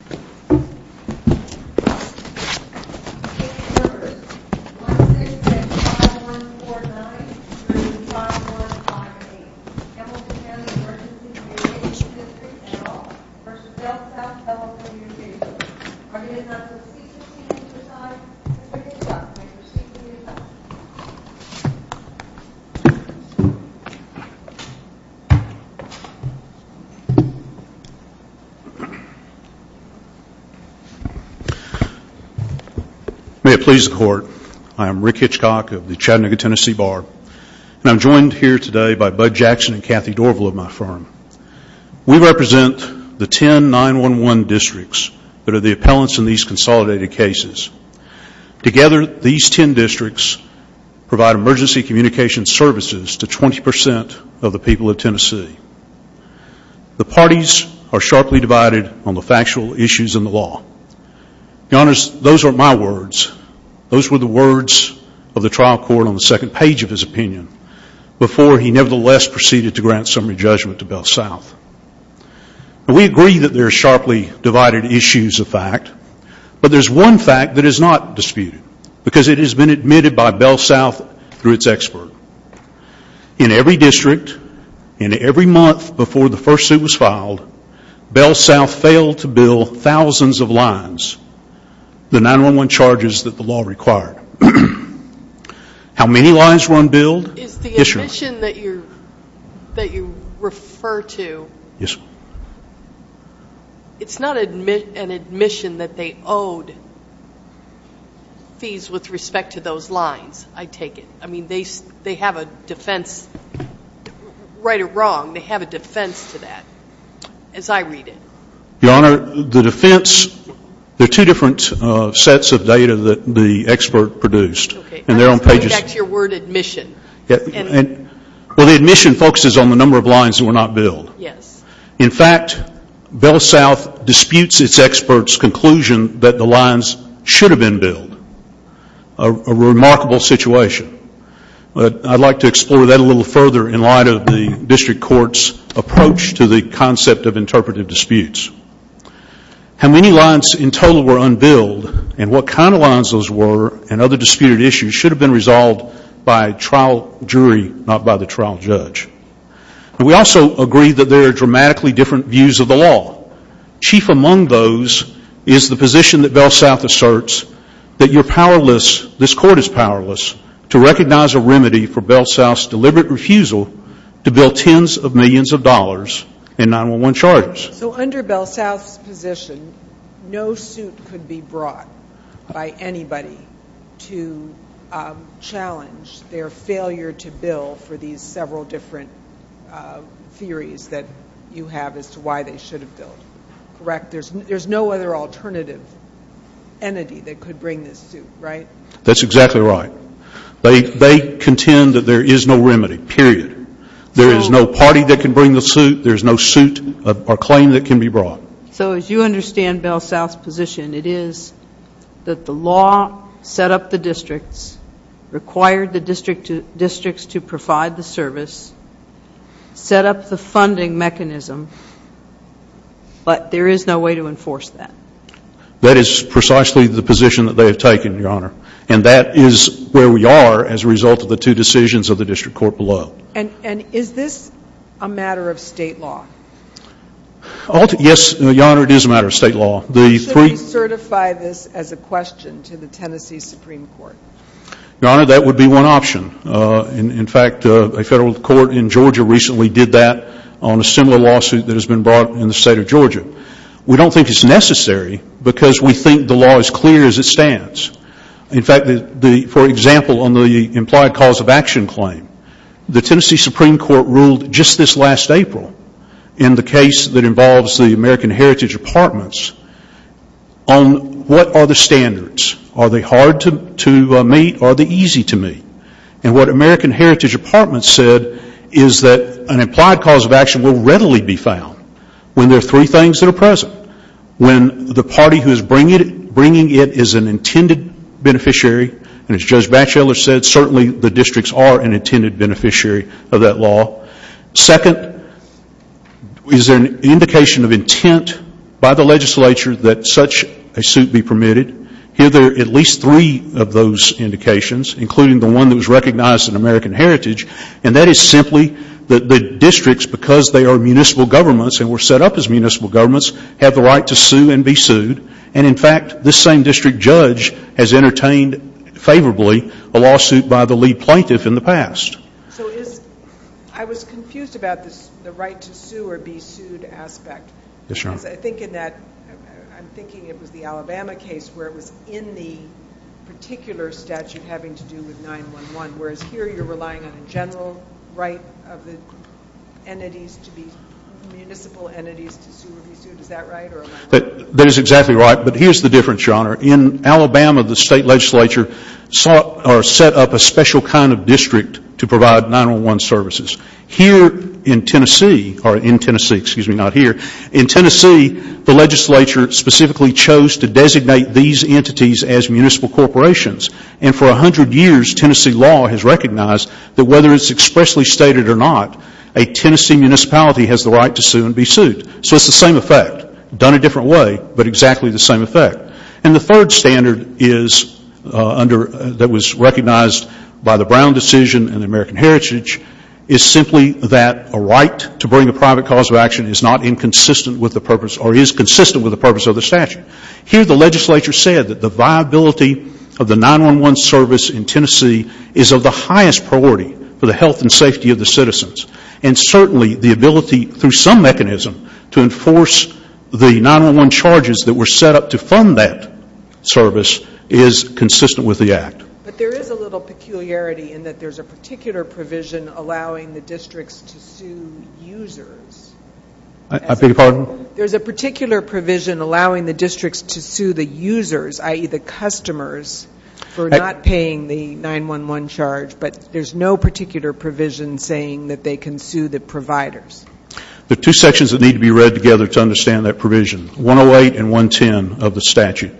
1-6-5-1-4-9-3-5-1-5-8. Hamilton County Emergency Comm v. Bellsouth Telecommunications. Are there any non-custodians inside? If there is, I'd like to speak to you about it. May it please the Court, I am Rick Hitchcock of the Chattanooga, Tennessee Bar, and I'm joined here today by Bud Jackson and Kathy Dorval of my firm. We represent the 10 9-1-1 districts that are the appellants in these consolidated cases. Together, these 10 districts provide emergency communication services to 20% of the people of Tennessee. The parties are sharply divided on the factual issues in the law. Those were my words. Those were the words of the trial court on the second page of his opinion before he nevertheless proceeded to grant summary judgment to Bellsouth. We agree that there are sharply divided issues of fact, but there's one fact that is not disputed because it has been admitted by Bellsouth through its expert. In every district, in every month before the first suit was filed, Bellsouth failed to bill thousands of lines, the 9-1-1 charges that the law required. How many lines were unbilled? Is the admission that you refer to, it's not an admission that they owed fees with respect to those lines, I take it. I mean, they have a defense, right or wrong, they have a defense to that, as I read it. Your Honor, the defense, there are two different sets of data that the expert produced. Okay, that's your word, admission. Well, the admission focuses on the number of lines that were not billed. Yes. How many lines in total were unbilled and what kind of lines those were and other disputed issues should have been resolved by trial jury, not by the trial judge. We also agree that there are dramatically different views of the law. Chief among those is the position that Bellsouth asserts that you're powerless, this court is powerless, to recognize a remedy for Bellsouth's deliberate refusal to bill tens of millions of dollars in 9-1-1 charges. So under Bellsouth's position, no suit could be brought by anybody to challenge their failure to bill for these several different theories that you have as to why they should have billed, correct? There's no other alternative entity that could bring this suit, right? That's exactly right. They contend that there is no remedy, period. There is no party that can bring the suit, there is no suit or claim that can be brought. So as you understand Bellsouth's position, it is that the law set up the districts, required the districts to provide the service, set up the funding mechanism, but there is no way to enforce that. That is precisely the position that they have taken, Your Honor. And that is where we are as a result of the two decisions of the district court below. And is this a matter of state law? Yes, Your Honor, it is a matter of state law. Should we certify this as a question to the Tennessee Supreme Court? Your Honor, that would be one option. In fact, a federal court in Georgia recently did that on a similar lawsuit that has been brought in the state of Georgia. We don't think it's necessary because we think the law is clear as it stands. In fact, for example, on the implied cause of action claim, the Tennessee Supreme Court ruled just this last April in the case that involves the American Heritage Apartments on what are the standards? Are they hard to meet or are they easy to meet? And what American Heritage Apartments said is that an implied cause of action will readily be found when there are three things that are present. When the party who is bringing it is an intended beneficiary, and as Judge Batchelor said, certainly the districts are an intended beneficiary of that law. Second, is there an indication of intent by the legislature that such a suit be permitted? Here there are at least three of those indications, including the one that was recognized in American Heritage, and that is simply that the districts, because they are municipal governments and were set up as municipal governments, have the right to sue and be sued. And in fact, this same district judge has entertained favorably a lawsuit by the lead plaintiff in the past. So is — I was confused about the right to sue or be sued aspect. Yes, Your Honor. Because I think in that — I'm thinking it was the Alabama case where it was in the particular statute having to do with 9-1-1, whereas here you're relying on a general right of the entities to be municipal entities to sue or be sued. Is that right? That is exactly right. But here's the difference, Your Honor. In Alabama, the state legislature sought or set up a special kind of district to provide 9-1-1 services. Here in Tennessee — or in Tennessee, excuse me, not here — in Tennessee, the legislature specifically chose to designate these entities as municipal corporations. And for 100 years, Tennessee law has recognized that whether it's expressly stated or not, a Tennessee municipality has the right to sue and be sued. So it's the same effect, done a different way, but exactly the same effect. And the third standard is — that was recognized by the Brown decision and the American Heritage is simply that a right to bring a private cause of action is not inconsistent with the purpose or is consistent with the purpose of the statute. Here the legislature said that the viability of the 9-1-1 service in Tennessee is of the highest priority for the health and safety of the citizens. And certainly the ability, through some mechanism, to enforce the 9-1-1 charges that were set up to fund that service is consistent with the Act. But there is a little peculiarity in that there's a particular provision allowing the districts to sue users. I beg your pardon? There's a particular provision allowing the districts to sue the users, i.e., the customers, for not paying the 9-1-1 charge, but there's no particular provision saying that they can sue the providers. There are two sections that need to be read together to understand that provision, 108 and 110 of the statute.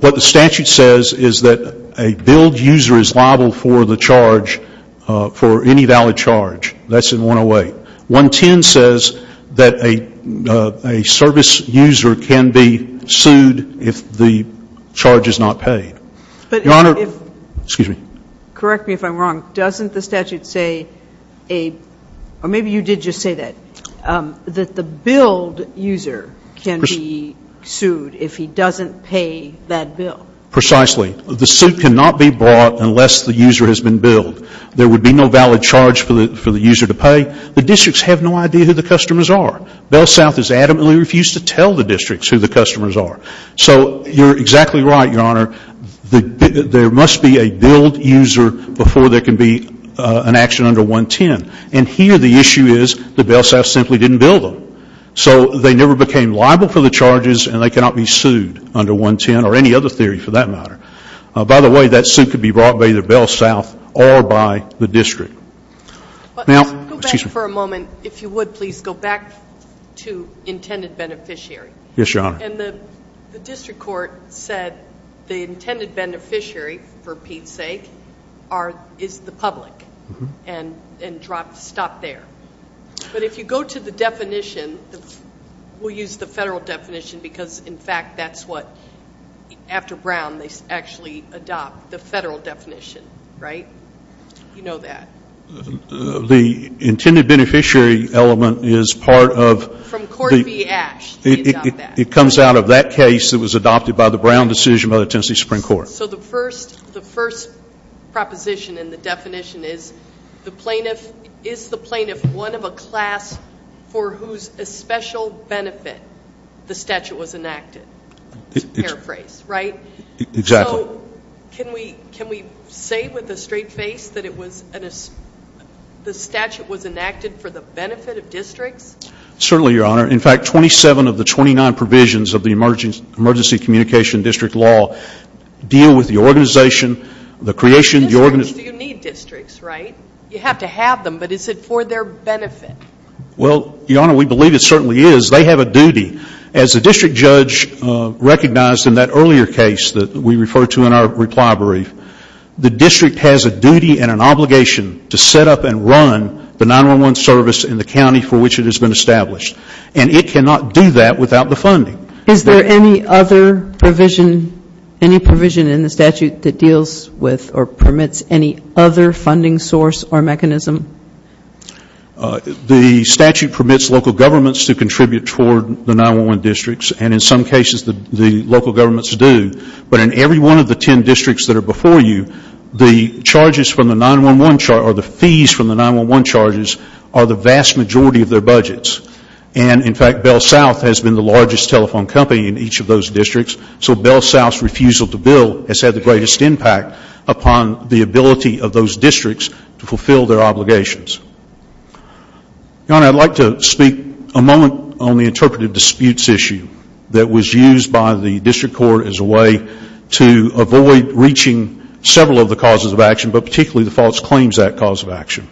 What the statute says is that a billed user is liable for the charge, for any valid charge. That's in 108. 110 says that a service user can be sued if the charge is not paid. Your Honor, excuse me. Correct me if I'm wrong. Doesn't the statute say a — or maybe you did just say that, that the billed user can be sued if he doesn't pay that bill? Precisely. The suit cannot be brought unless the user has been billed. There would be no valid charge for the user to pay. The districts have no idea who the customers are. BellSouth has adamantly refused to tell the districts who the customers are. So you're exactly right, Your Honor. There must be a billed user before there can be an action under 110. And here the issue is the BellSouth simply didn't bill them. So they never became liable for the charges and they cannot be sued under 110 or any other theory for that matter. By the way, that suit could be brought by either BellSouth or by the district. Go back for a moment, if you would, please. Go back to intended beneficiary. Yes, Your Honor. And the district court said the intended beneficiary, for Pete's sake, is the public and stopped there. But if you go to the definition, we'll use the federal definition because, in fact, that's what, after Brown, they actually adopt the federal definition, right? You know that. The intended beneficiary element is part of the- From Court v. Ash, they adopt that. It comes out of that case that was adopted by the Brown decision by the Tennessee Supreme Court. So the first proposition in the definition is the plaintiff is the plaintiff one of a class for whose special benefit the statute was enacted, to paraphrase, right? Exactly. So can we say with a straight face that the statute was enacted for the benefit of districts? Certainly, Your Honor. In fact, 27 of the 29 provisions of the emergency communication district law deal with the organization, the creation- Districts do need districts, right? You have to have them, but is it for their benefit? Well, Your Honor, we believe it certainly is. They have a duty. As the district judge recognized in that earlier case that we referred to in our reply brief, the district has a duty and an obligation to set up and run the 911 service in the county for which it has been established, and it cannot do that without the funding. Is there any other provision in the statute that deals with or permits any other funding source or mechanism? The statute permits local governments to contribute toward the 911 districts, and in some cases the local governments do. But in every one of the 10 districts that are before you, the charges from the 911 charge or the fees from the 911 charges are the vast majority of their budgets. And, in fact, Bell South has been the largest telephone company in each of those districts, so Bell South's refusal to bill has had the greatest impact upon the ability of those districts to fulfill their obligations. Your Honor, I'd like to speak a moment on the interpretive disputes issue that was used by the district court as a way to avoid reaching several of the causes of action, but particularly the false claims that cause of action.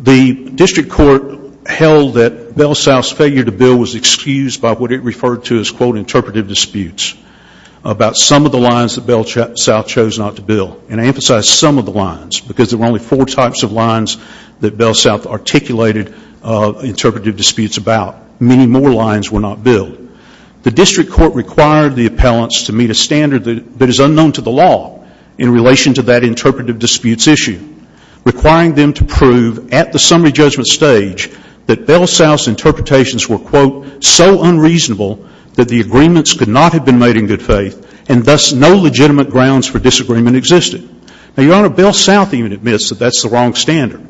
The district court held that Bell South's failure to bill was excused by what it referred to as, quote, interpretive disputes about some of the lines that Bell South chose not to bill. And I emphasize some of the lines, because there were only four types of lines that Bell South articulated interpretive disputes about. Many more lines were not billed. The district court required the appellants to meet a standard that is unknown to the law in relation to that interpretive disputes issue, requiring them to prove at the summary judgment stage that Bell South's interpretations were, quote, so unreasonable that the agreements could not have been made in good faith, and thus no legitimate grounds for disagreement existed. Now, Your Honor, Bell South even admits that that's the wrong standard.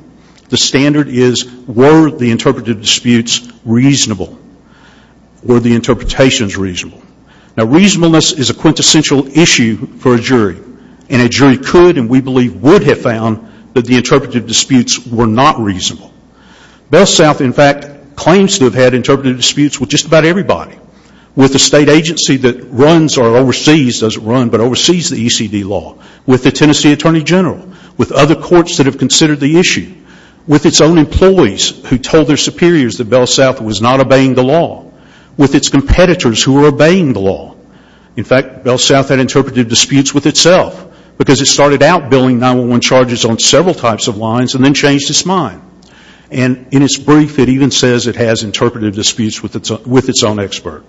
The standard is, were the interpretive disputes reasonable? Were the interpretations reasonable? Now, reasonableness is a quintessential issue for a jury. And a jury could and we believe would have found that the interpretive disputes were not reasonable. Bell South, in fact, claims to have had interpretive disputes with just about everybody, with the state agency that runs or oversees, doesn't run, but oversees the ECD law, with the Tennessee Attorney General, with other courts that have considered the issue, with its own employees who told their superiors that Bell South was not obeying the law, with its competitors who were obeying the law. In fact, Bell South had interpretive disputes with itself, because it started out billing 9-1-1 charges on several types of lines and then changed its mind. And in its brief, it even says it has interpretive disputes with its own expert.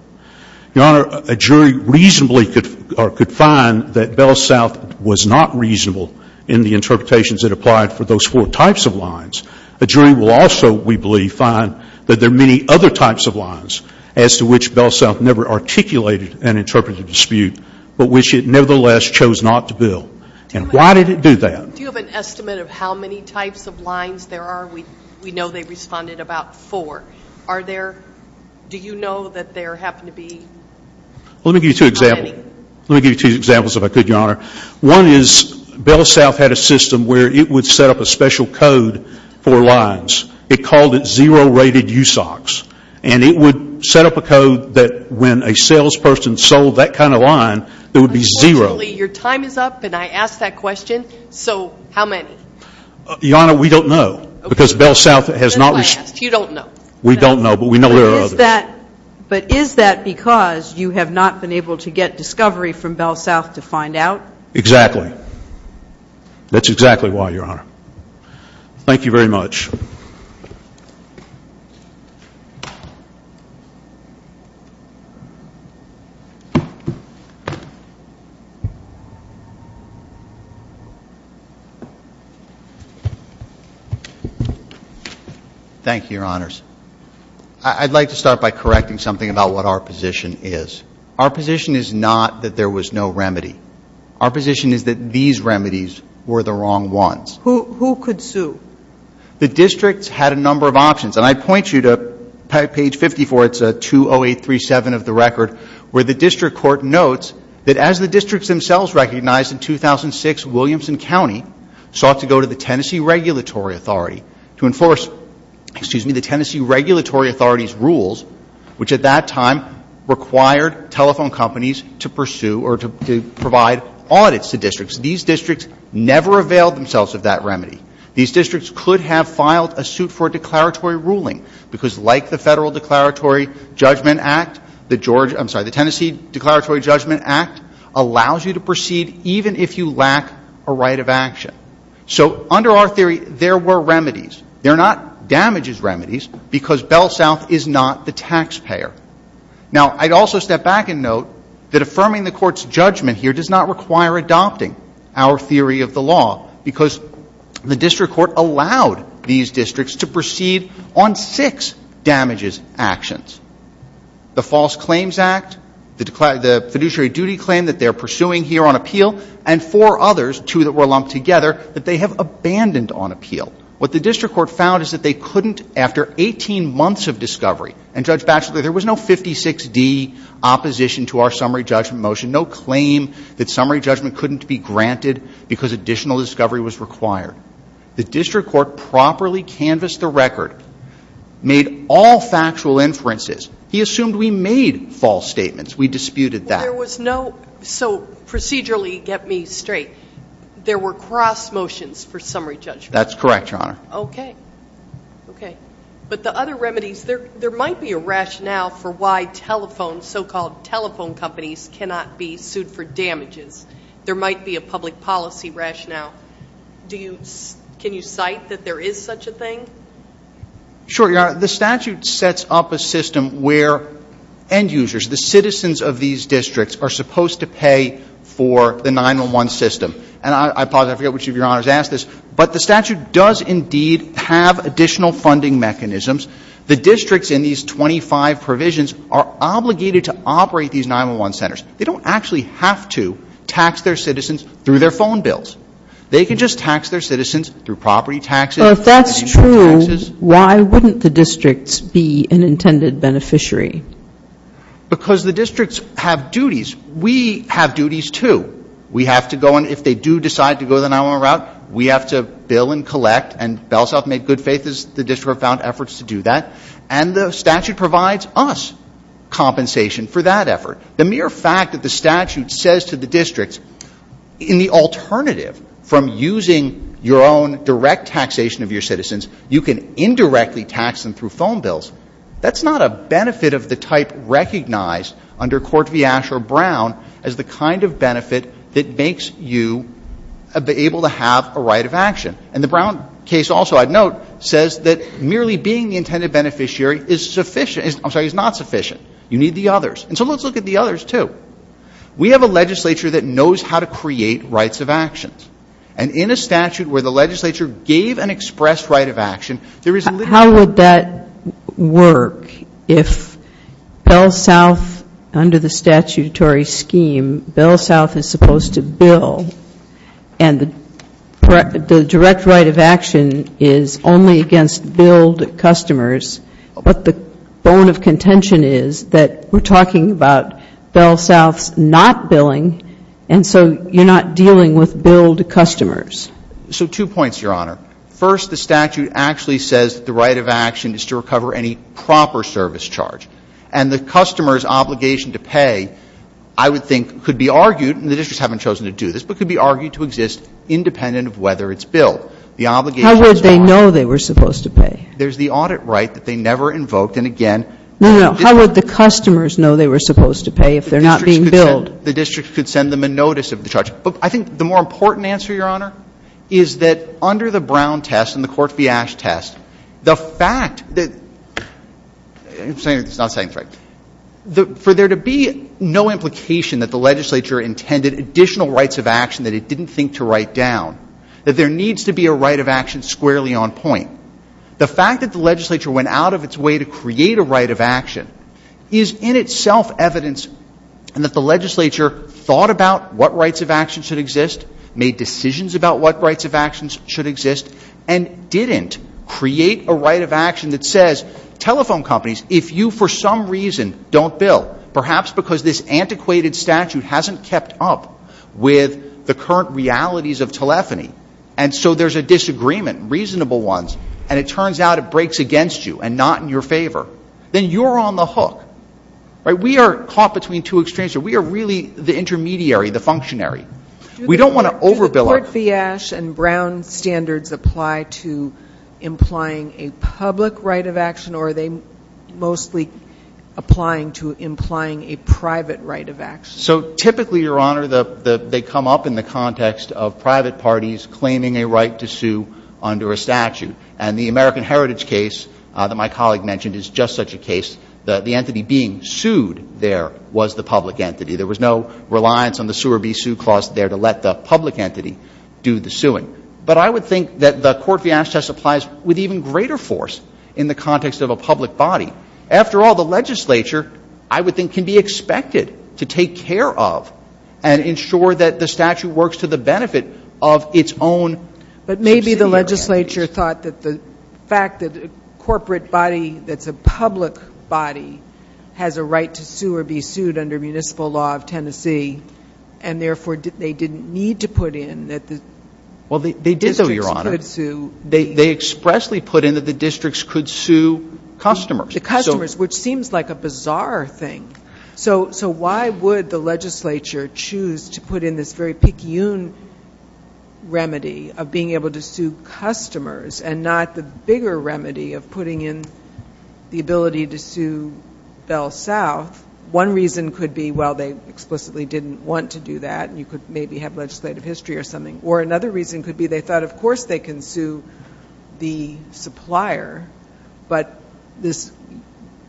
Your Honor, a jury reasonably could find that Bell South was not reasonable in the interpretations that applied for those four types of lines. A jury will also, we believe, find that there are many other types of lines as to which Bell South never articulated an interpretive dispute, but which it nevertheless chose not to bill. And why did it do that? Do you have an estimate of how many types of lines there are? We know they responded about four. Are there, do you know that there happen to be? Let me give you two examples. Let me give you two examples, if I could, Your Honor. One is Bell South had a system where it would set up a special code for lines. It called it zero-rated USOCs. And it would set up a code that when a salesperson sold that kind of line, it would be zero. Unfortunately, your time is up, and I asked that question. So how many? Your Honor, we don't know, because Bell South has not. That's why I asked. You don't know. We don't know, but we know there are others. But is that because you have not been able to get discovery from Bell South to find out? Exactly. That's exactly why, Your Honor. Thank you very much. Thank you, Your Honors. I'd like to start by correcting something about what our position is. Our position is not that there was no remedy. Our position is that these remedies were the wrong ones. Who could sue? The districts had a number of options. And I'd point you to page 54. It's 20837 of the record, where the district court notes that as the districts themselves recognized in 2006, Williamson County sought to go to the Tennessee Regulatory Authority to enforce the Tennessee Regulatory Authority's rules, which at that time required telephone companies to pursue or to provide audits to districts. These districts never availed themselves of that remedy. These districts could have filed a suit for a declaratory ruling, because like the Federal Declaratory Judgment Act, the Tennessee Declaratory Judgment Act allows you to proceed even if you lack a right of action. So under our theory, there were remedies. They're not damages remedies, because Bell South is not the taxpayer. Now, I'd also step back and note that affirming the Court's judgment here does not require adopting our theory of the law, because the district court allowed these districts to proceed on six damages actions. The False Claims Act, the fiduciary duty claim that they're pursuing here on appeal, and four others, two that were lumped together, that they have abandoned on appeal. What the district court found is that they couldn't, after 18 months of discovery, and Judge Batchelor, there was no 56D opposition to our summary judgment motion, no claim that summary judgment couldn't be granted because additional discovery was required. The district court properly canvassed the record, made all factual inferences. He assumed we made false statements. We disputed that. Well, there was no – so procedurally, get me straight. There were cross motions for summary judgment. That's correct, Your Honor. Okay. Okay. But the other remedies, there might be a rationale for why telephone, so-called telephone companies cannot be sued for damages. There might be a public policy rationale. Do you – can you cite that there is such a thing? Sure, Your Honor. The statute sets up a system where end users, the citizens of these districts, are supposed to pay for the 911 system. And I apologize, I forget which of Your Honors asked this, but the statute does indeed have additional funding mechanisms. The districts in these 25 provisions are obligated to operate these 911 centers. They don't actually have to tax their citizens through their phone bills. They can just tax their citizens through property taxes. Well, if that's true, why wouldn't the districts be an intended beneficiary? Because the districts have duties. We have duties, too. We have to go, and if they do decide to go the 911 route, we have to bill and collect. And BellSouth made good faith as the district found efforts to do that. And the statute provides us compensation for that effort. The mere fact that the statute says to the districts, in the alternative from using your own direct taxation of your citizens, you can indirectly tax them through phone bills, that's not a benefit of the type recognized under Court v. Asher-Brown as the kind of benefit that makes you able to have a right of action. And the Brown case also, I'd note, says that merely being the intended beneficiary is sufficient. I'm sorry, is not sufficient. You need the others. And so let's look at the others, too. We have a legislature that knows how to create rights of actions. And in a statute where the legislature gave an express right of action, there is little to say. How would that work if BellSouth, under the statutory scheme, BellSouth is supposed to bill and the direct right of action is only against billed customers? But the bone of contention is that we're talking about BellSouth's not billing, and so you're not dealing with billed customers. So two points, Your Honor. First, the statute actually says that the right of action is to recover any proper service charge. And the customer's obligation to pay, I would think, could be argued, and the districts haven't chosen to do this, but could be argued to exist independent of whether it's billed. The obligation is not. How would they know they were supposed to pay? There's the audit right that they never invoked. And, again, the district. No, no. How would the customers know they were supposed to pay if they're not being billed? The district could send them a notice of the charge. But I think the more important answer, Your Honor, is that under the Brown test and the Court v. Ash test, the fact that — I'm not saying it's right. For there to be no implication that the legislature intended additional rights of action that it didn't think to write down, that there needs to be a right of action squarely on point. The fact that the legislature went out of its way to create a right of action is in itself evidence and that the legislature thought about what rights of action should exist, made decisions about what rights of action should exist, and didn't create a right of action that says, telephone companies, if you for some reason don't bill, perhaps because this antiquated statute hasn't kept up with the current realities of telephony, and so there's a disagreement, reasonable ones, and it turns out it breaks against you and not in your favor, then you're on the hook. Right? We are caught between two extremes. We are really the intermediary, the functionary. We don't want to over-bill. Do the Court v. Ash and Brown standards apply to implying a public right of action or are they mostly applying to implying a private right of action? So typically, Your Honor, they come up in the context of private parties claiming a right to sue under a statute. And the American Heritage case that my colleague mentioned is just such a case. The entity being sued there was the public entity. There was no reliance on the sue or be sued clause there to let the public entity do the suing. But I would think that the Court v. Ash test applies with even greater force in the context of a public body. After all, the legislature, I would think, can be expected to take care of and ensure that the statute works to the benefit of its own subsidiary entities. The legislature thought that the fact that a corporate body that's a public body has a right to sue or be sued under municipal law of Tennessee and, therefore, they didn't need to put in that the districts could sue. Well, they did, Your Honor. They expressly put in that the districts could sue customers. The customers, which seems like a bizarre thing. So why would the legislature choose to put in this very picayune remedy of being able to sue customers and not the bigger remedy of putting in the ability to sue Bell South? One reason could be, well, they explicitly didn't want to do that, and you could maybe have legislative history or something. Or another reason could be they thought, of course, they can sue the supplier, but this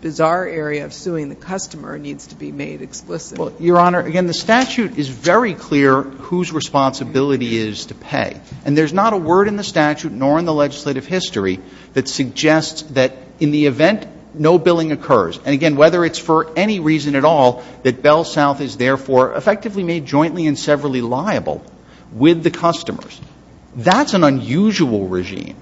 bizarre area of suing the customer needs to be made explicit. Well, Your Honor, again, the statute is very clear whose responsibility it is to pay. And there's not a word in the statute nor in the legislative history that suggests that in the event no billing occurs, and, again, whether it's for any reason at all, that Bell South is, therefore, effectively made jointly and severally liable with the customers. That's an unusual regime.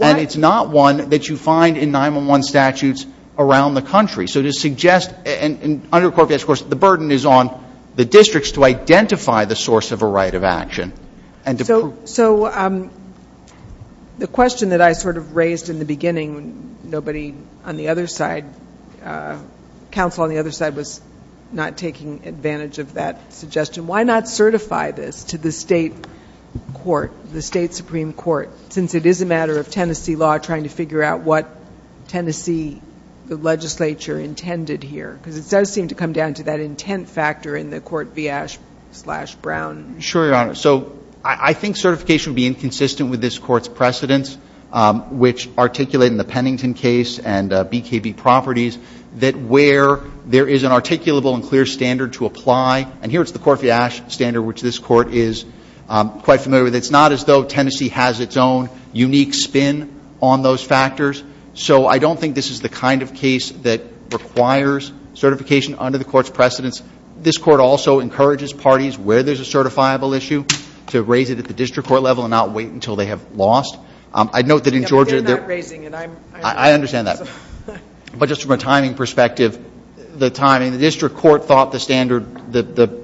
And it's not one that you find in 9-1-1 statutes around the country. So to suggest, and under the Court of Appeals, of course, the burden is on the districts to identify the source of a right of action and to prove it. So the question that I sort of raised in the beginning, nobody on the other side, counsel on the other side was not taking advantage of that suggestion, why not certify this to the state court, the state supreme court, since it is a matter of Tennessee law trying to figure out what Tennessee, the legislature, intended here? Because it does seem to come down to that intent factor in the Court v. Ash v. Brown. Sure, Your Honor. So I think certification would be inconsistent with this court's precedents, which articulate in the Pennington case and BKB properties that where there is an articulable and clear standard to apply. And here it's the Court v. Ash standard, which this court is quite familiar with. It's not as though Tennessee has its own unique spin on those factors. So I don't think this is the kind of case that requires certification under the court's precedents. This court also encourages parties where there's a certifiable issue to raise it at the district court level and not wait until they have lost. I note that in Georgia they're not raising it. I understand that. But just from a timing perspective, the timing, the district court thought the standard, the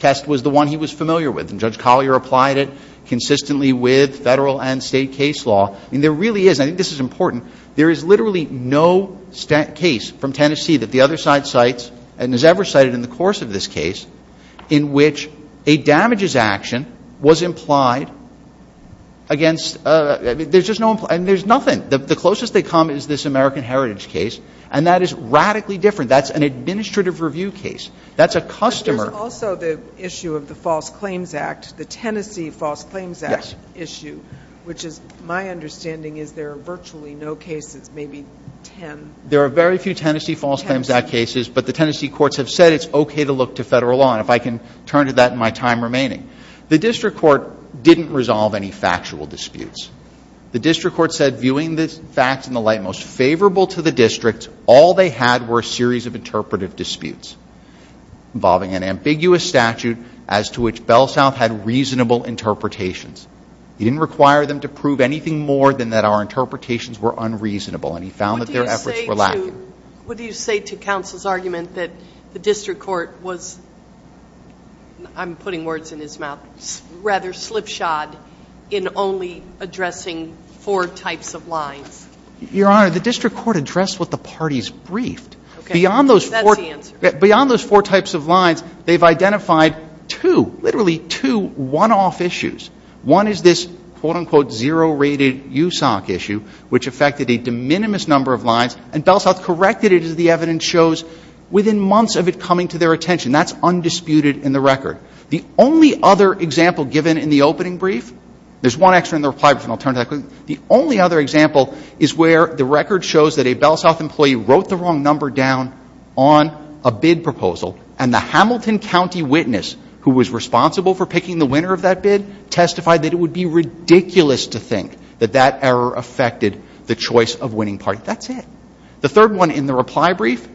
test was the one he was familiar with. And Judge Collier applied it consistently with Federal and State case law. And there really is, and I think this is important, there is literally no case from Tennessee that the other side cites and has ever cited in the course of this case in which a damages action was implied against, there's just no, and there's nothing. The closest they come is this American Heritage case, and that is radically different. That's an administrative review case. That's a customer. But there's also the issue of the False Claims Act, the Tennessee False Claims Act issue, which is my understanding is there are virtually no cases, maybe ten. There are very few Tennessee False Claims Act cases, but the Tennessee courts have said it's okay to look to Federal law. And if I can turn to that in my time remaining. The district court didn't resolve any factual disputes. The district court said viewing the facts in the light most favorable to the district, all they had were a series of interpretive disputes involving an ambiguous statute as to which BellSouth had reasonable interpretations. He didn't require them to prove anything more than that our interpretations were unreasonable, and he found that their efforts were lacking. What do you say to counsel's argument that the district court was, I'm putting words in his mouth, rather slipshod in only addressing four types of lines? Your Honor, the district court addressed what the parties briefed. Okay. That's the answer. Beyond those four types of lines, they've identified two, literally two, one-off issues. One is this quote-unquote zero-rated USOC issue, which affected a de minimis number of lines, and BellSouth corrected it, as the evidence shows, within months of it coming to their attention. That's undisputed in the record. The only other example given in the opening brief, there's one extra in the reply brief, and I'll turn to that. The only other example is where the record shows that a BellSouth employee wrote the wrong number down on a bid proposal, and the Hamilton County witness, who was responsible for picking the winner of that bid, testified that it would be ridiculous to think that that error affected the choice of winning party. That's it. The third one in the reply brief,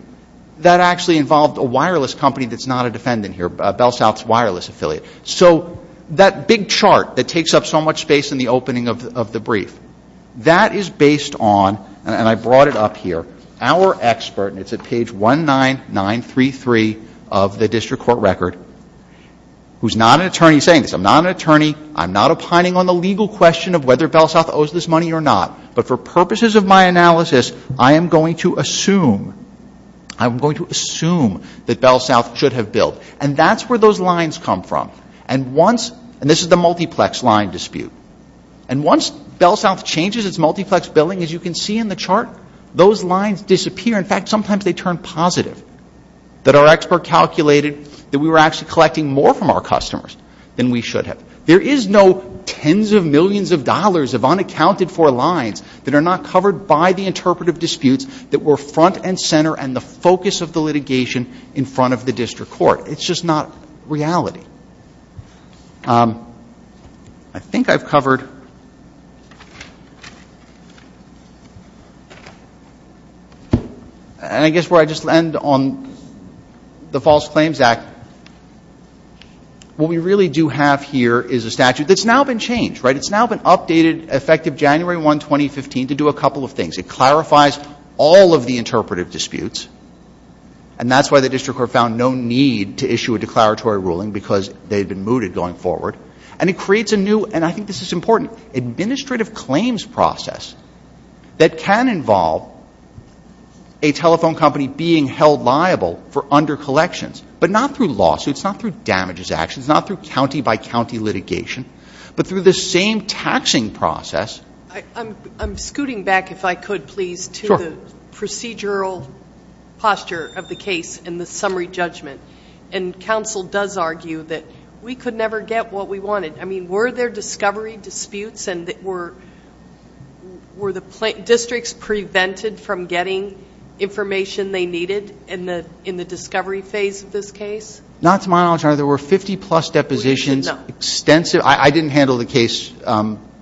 that actually involved a wireless company that's not a defendant here, BellSouth's wireless affiliate. So that big chart that takes up so much space in the opening of the brief, that is based on, and I brought it up here, our expert, and it's at page 19933 of the district court record, who's not an attorney saying this. I'm not an attorney. I'm not opining on the legal question of whether BellSouth owes this money or not, but for purposes of my analysis, I am going to assume, I'm going to assume that BellSouth should have billed. And that's where those lines come from. And once, and this is the multiplex line dispute, and once BellSouth changes its multiplex billing, as you can see in the chart, those lines disappear. In fact, sometimes they turn positive. That our expert calculated that we were actually collecting more from our customers than we should have. There is no tens of millions of dollars of unaccounted for lines that are not covered by the interpretive disputes that were front and center and the focus of the litigation in front of the district court. It's just not reality. I think I've covered, and I guess where I just land on the False Claims Act, what we really do have here is a statute that's now been changed, right? It's now been updated, effective January 1, 2015, to do a couple of things. It clarifies all of the interpretive disputes. And that's why the district court found no need to issue a declaratory ruling, because they had been mooted going forward. And it creates a new, and I think this is important, administrative claims process that can involve a telephone company being held liable for under collections, but not through lawsuits, not through damages actions, not through county-by-county litigation, but through the same taxing process. I'm scooting back, if I could, please, to the procedural posture of the case and the summary judgment. And counsel does argue that we could never get what we wanted. I mean, were there discovery disputes, and were the districts prevented from getting information they needed in the discovery phase of this case? Not to my knowledge, Your Honor. There were 50-plus depositions, extensive. I didn't handle the case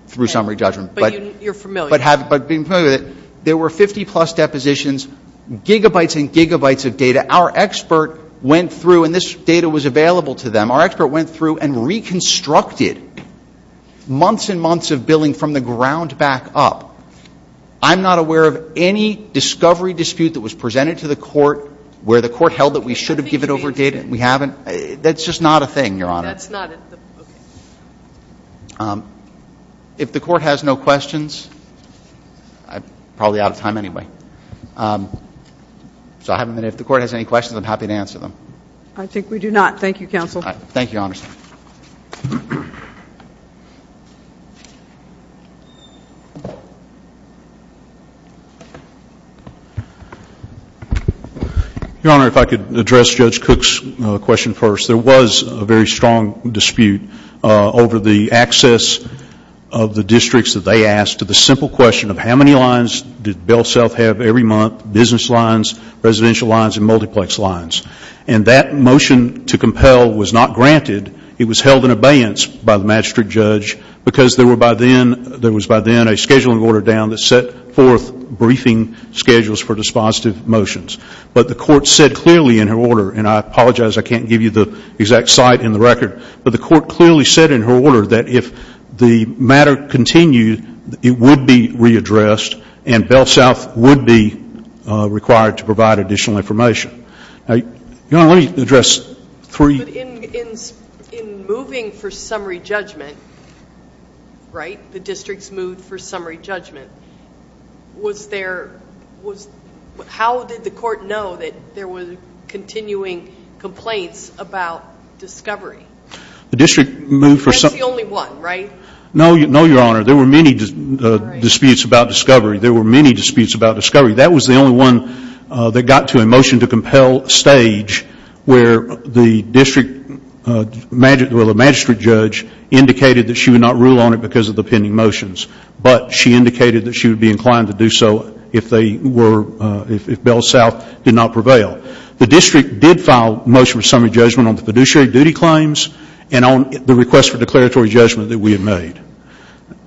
through summary judgment. But you're familiar. But being familiar with it, there were 50-plus depositions, gigabytes and gigabytes of data. Our expert went through, and this data was available to them, our expert went through and reconstructed months and months of billing from the ground back up. I'm not aware of any discovery dispute that was presented to the court where the court held that we should have given over data, and we haven't. That's just not a thing, Your Honor. That's not a thing. If the court has no questions, I'm probably out of time anyway. So if the court has any questions, I'm happy to answer them. I think we do not. Thank you, counsel. Thank you, Your Honor. Your Honor, if I could address Judge Cook's question first. There was a very strong dispute over the access of the districts that they asked to the simple question of how many lines did Bell South have every month, business lines, residential lines and multiplex lines. And that motion to compel was not granted. It was held in abeyance by the magistrate judge because there was by then a scheduling order down that set forth briefing schedules for dispositive motions. But the court said clearly in her order, and I apologize I can't give you the exact site in the record, but the court clearly said in her order that if the matter continued, it would be readdressed and Bell South would be required to provide additional information. Your Honor, let me address three. In moving for summary judgment, right, the districts moved for summary judgment, was there, how did the court know that there was continuing complaints about discovery? The district moved for summary. That's the only one, right? No, Your Honor. There were many disputes about discovery. There were many disputes about discovery. That was the only one that got to a motion to compel stage where the district magistrate judge indicated that she would not rule on it because of the pending motions. But she indicated that she would be inclined to do so if they were, if Bell South did not prevail. The district did file a motion for summary judgment on the fiduciary duty claims and on the request for declaratory judgment that we had made.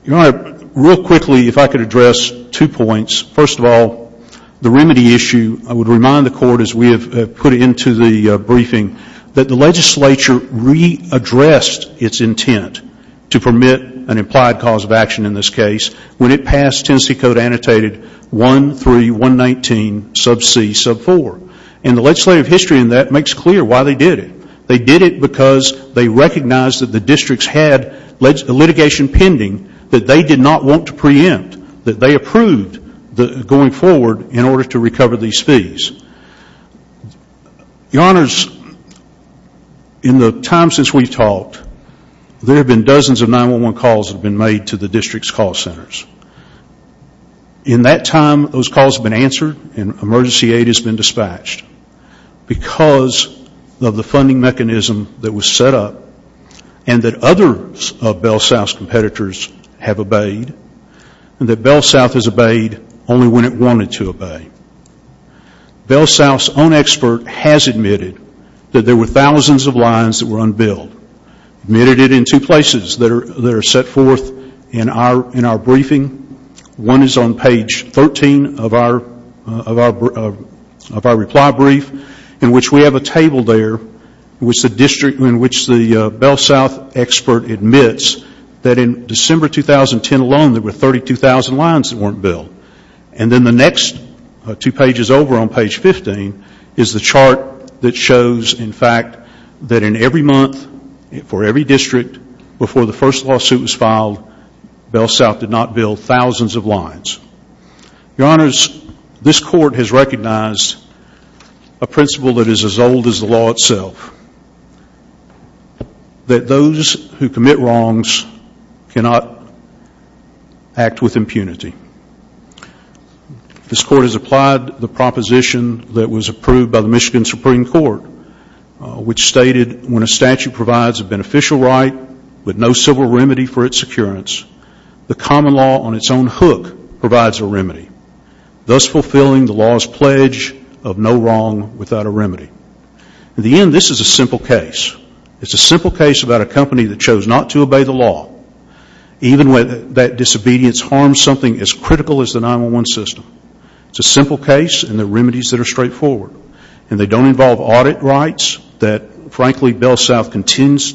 Your Honor, real quickly, if I could address two points. First of all, the remedy issue, I would remind the court as we have put it into the briefing, that the legislature readdressed its intent to permit an implied cause of action in this case when it passed Tennessee Code Annotated 13119 sub c sub 4. And the legislative history in that makes clear why they did it. They did it because they recognized that the districts had litigation pending that they did not want to preempt, that they approved going forward in order to recover these fees. Your Honors, in the time since we've talked, there have been dozens of 911 calls that have been made to the district's call centers. In that time, those calls have been answered and emergency aid has been dispatched because of the funding mechanism that was set up and that others of Bell South's competitors have obeyed and that Bell South has obeyed only when it wanted to obey. Bell South's own expert has admitted that there were thousands of lines that were unbilled, admitted it in two places that are set forth in our briefing. One is on page 13 of our reply brief in which we have a table there in which the district, in which the Bell South expert admits that in December 2010 alone, there were 32,000 lines that weren't billed. And then the next two pages over on page 15 is the chart that shows, in fact, that in every month for every district before the first lawsuit was filed, Bell South did not bill thousands of lines. Your Honors, this court has recognized a principle that is as old as the law itself, that those who commit wrongs cannot act with impunity. This court has applied the proposition that was approved by the Michigan Supreme Court, which stated when a statute provides a beneficial right with no civil remedy for its securance, the common law on its own hook provides a remedy, thus fulfilling the law's pledge of no wrong without a remedy. In the end, this is a simple case. It's a simple case about a company that chose not to obey the law, even when that disobedience harms something as critical as the 911 system. It's a simple case and there are remedies that are straightforward. And they don't involve audit rights that, frankly, Bell South continues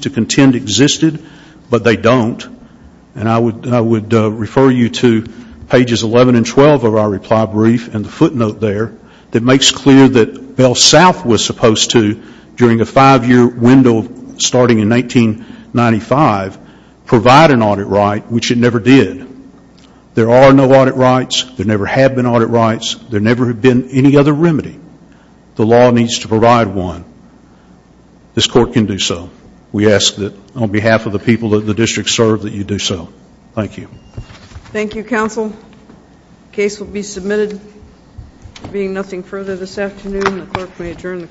to contend existed, but they don't. And I would refer you to pages 11 and 12 of our reply brief and the footnote there that makes clear that Bell South was supposed to, during a five-year window starting in 1995, provide an audit right, which it never did. There are no audit rights. There never have been audit rights. There never have been any other remedy. The law needs to provide one. This court can do so. We ask that on behalf of the people that the district serves that you do so. Thank you. Thank you, counsel. The case will be submitted. There will be nothing further this afternoon. The clerk may adjourn the court.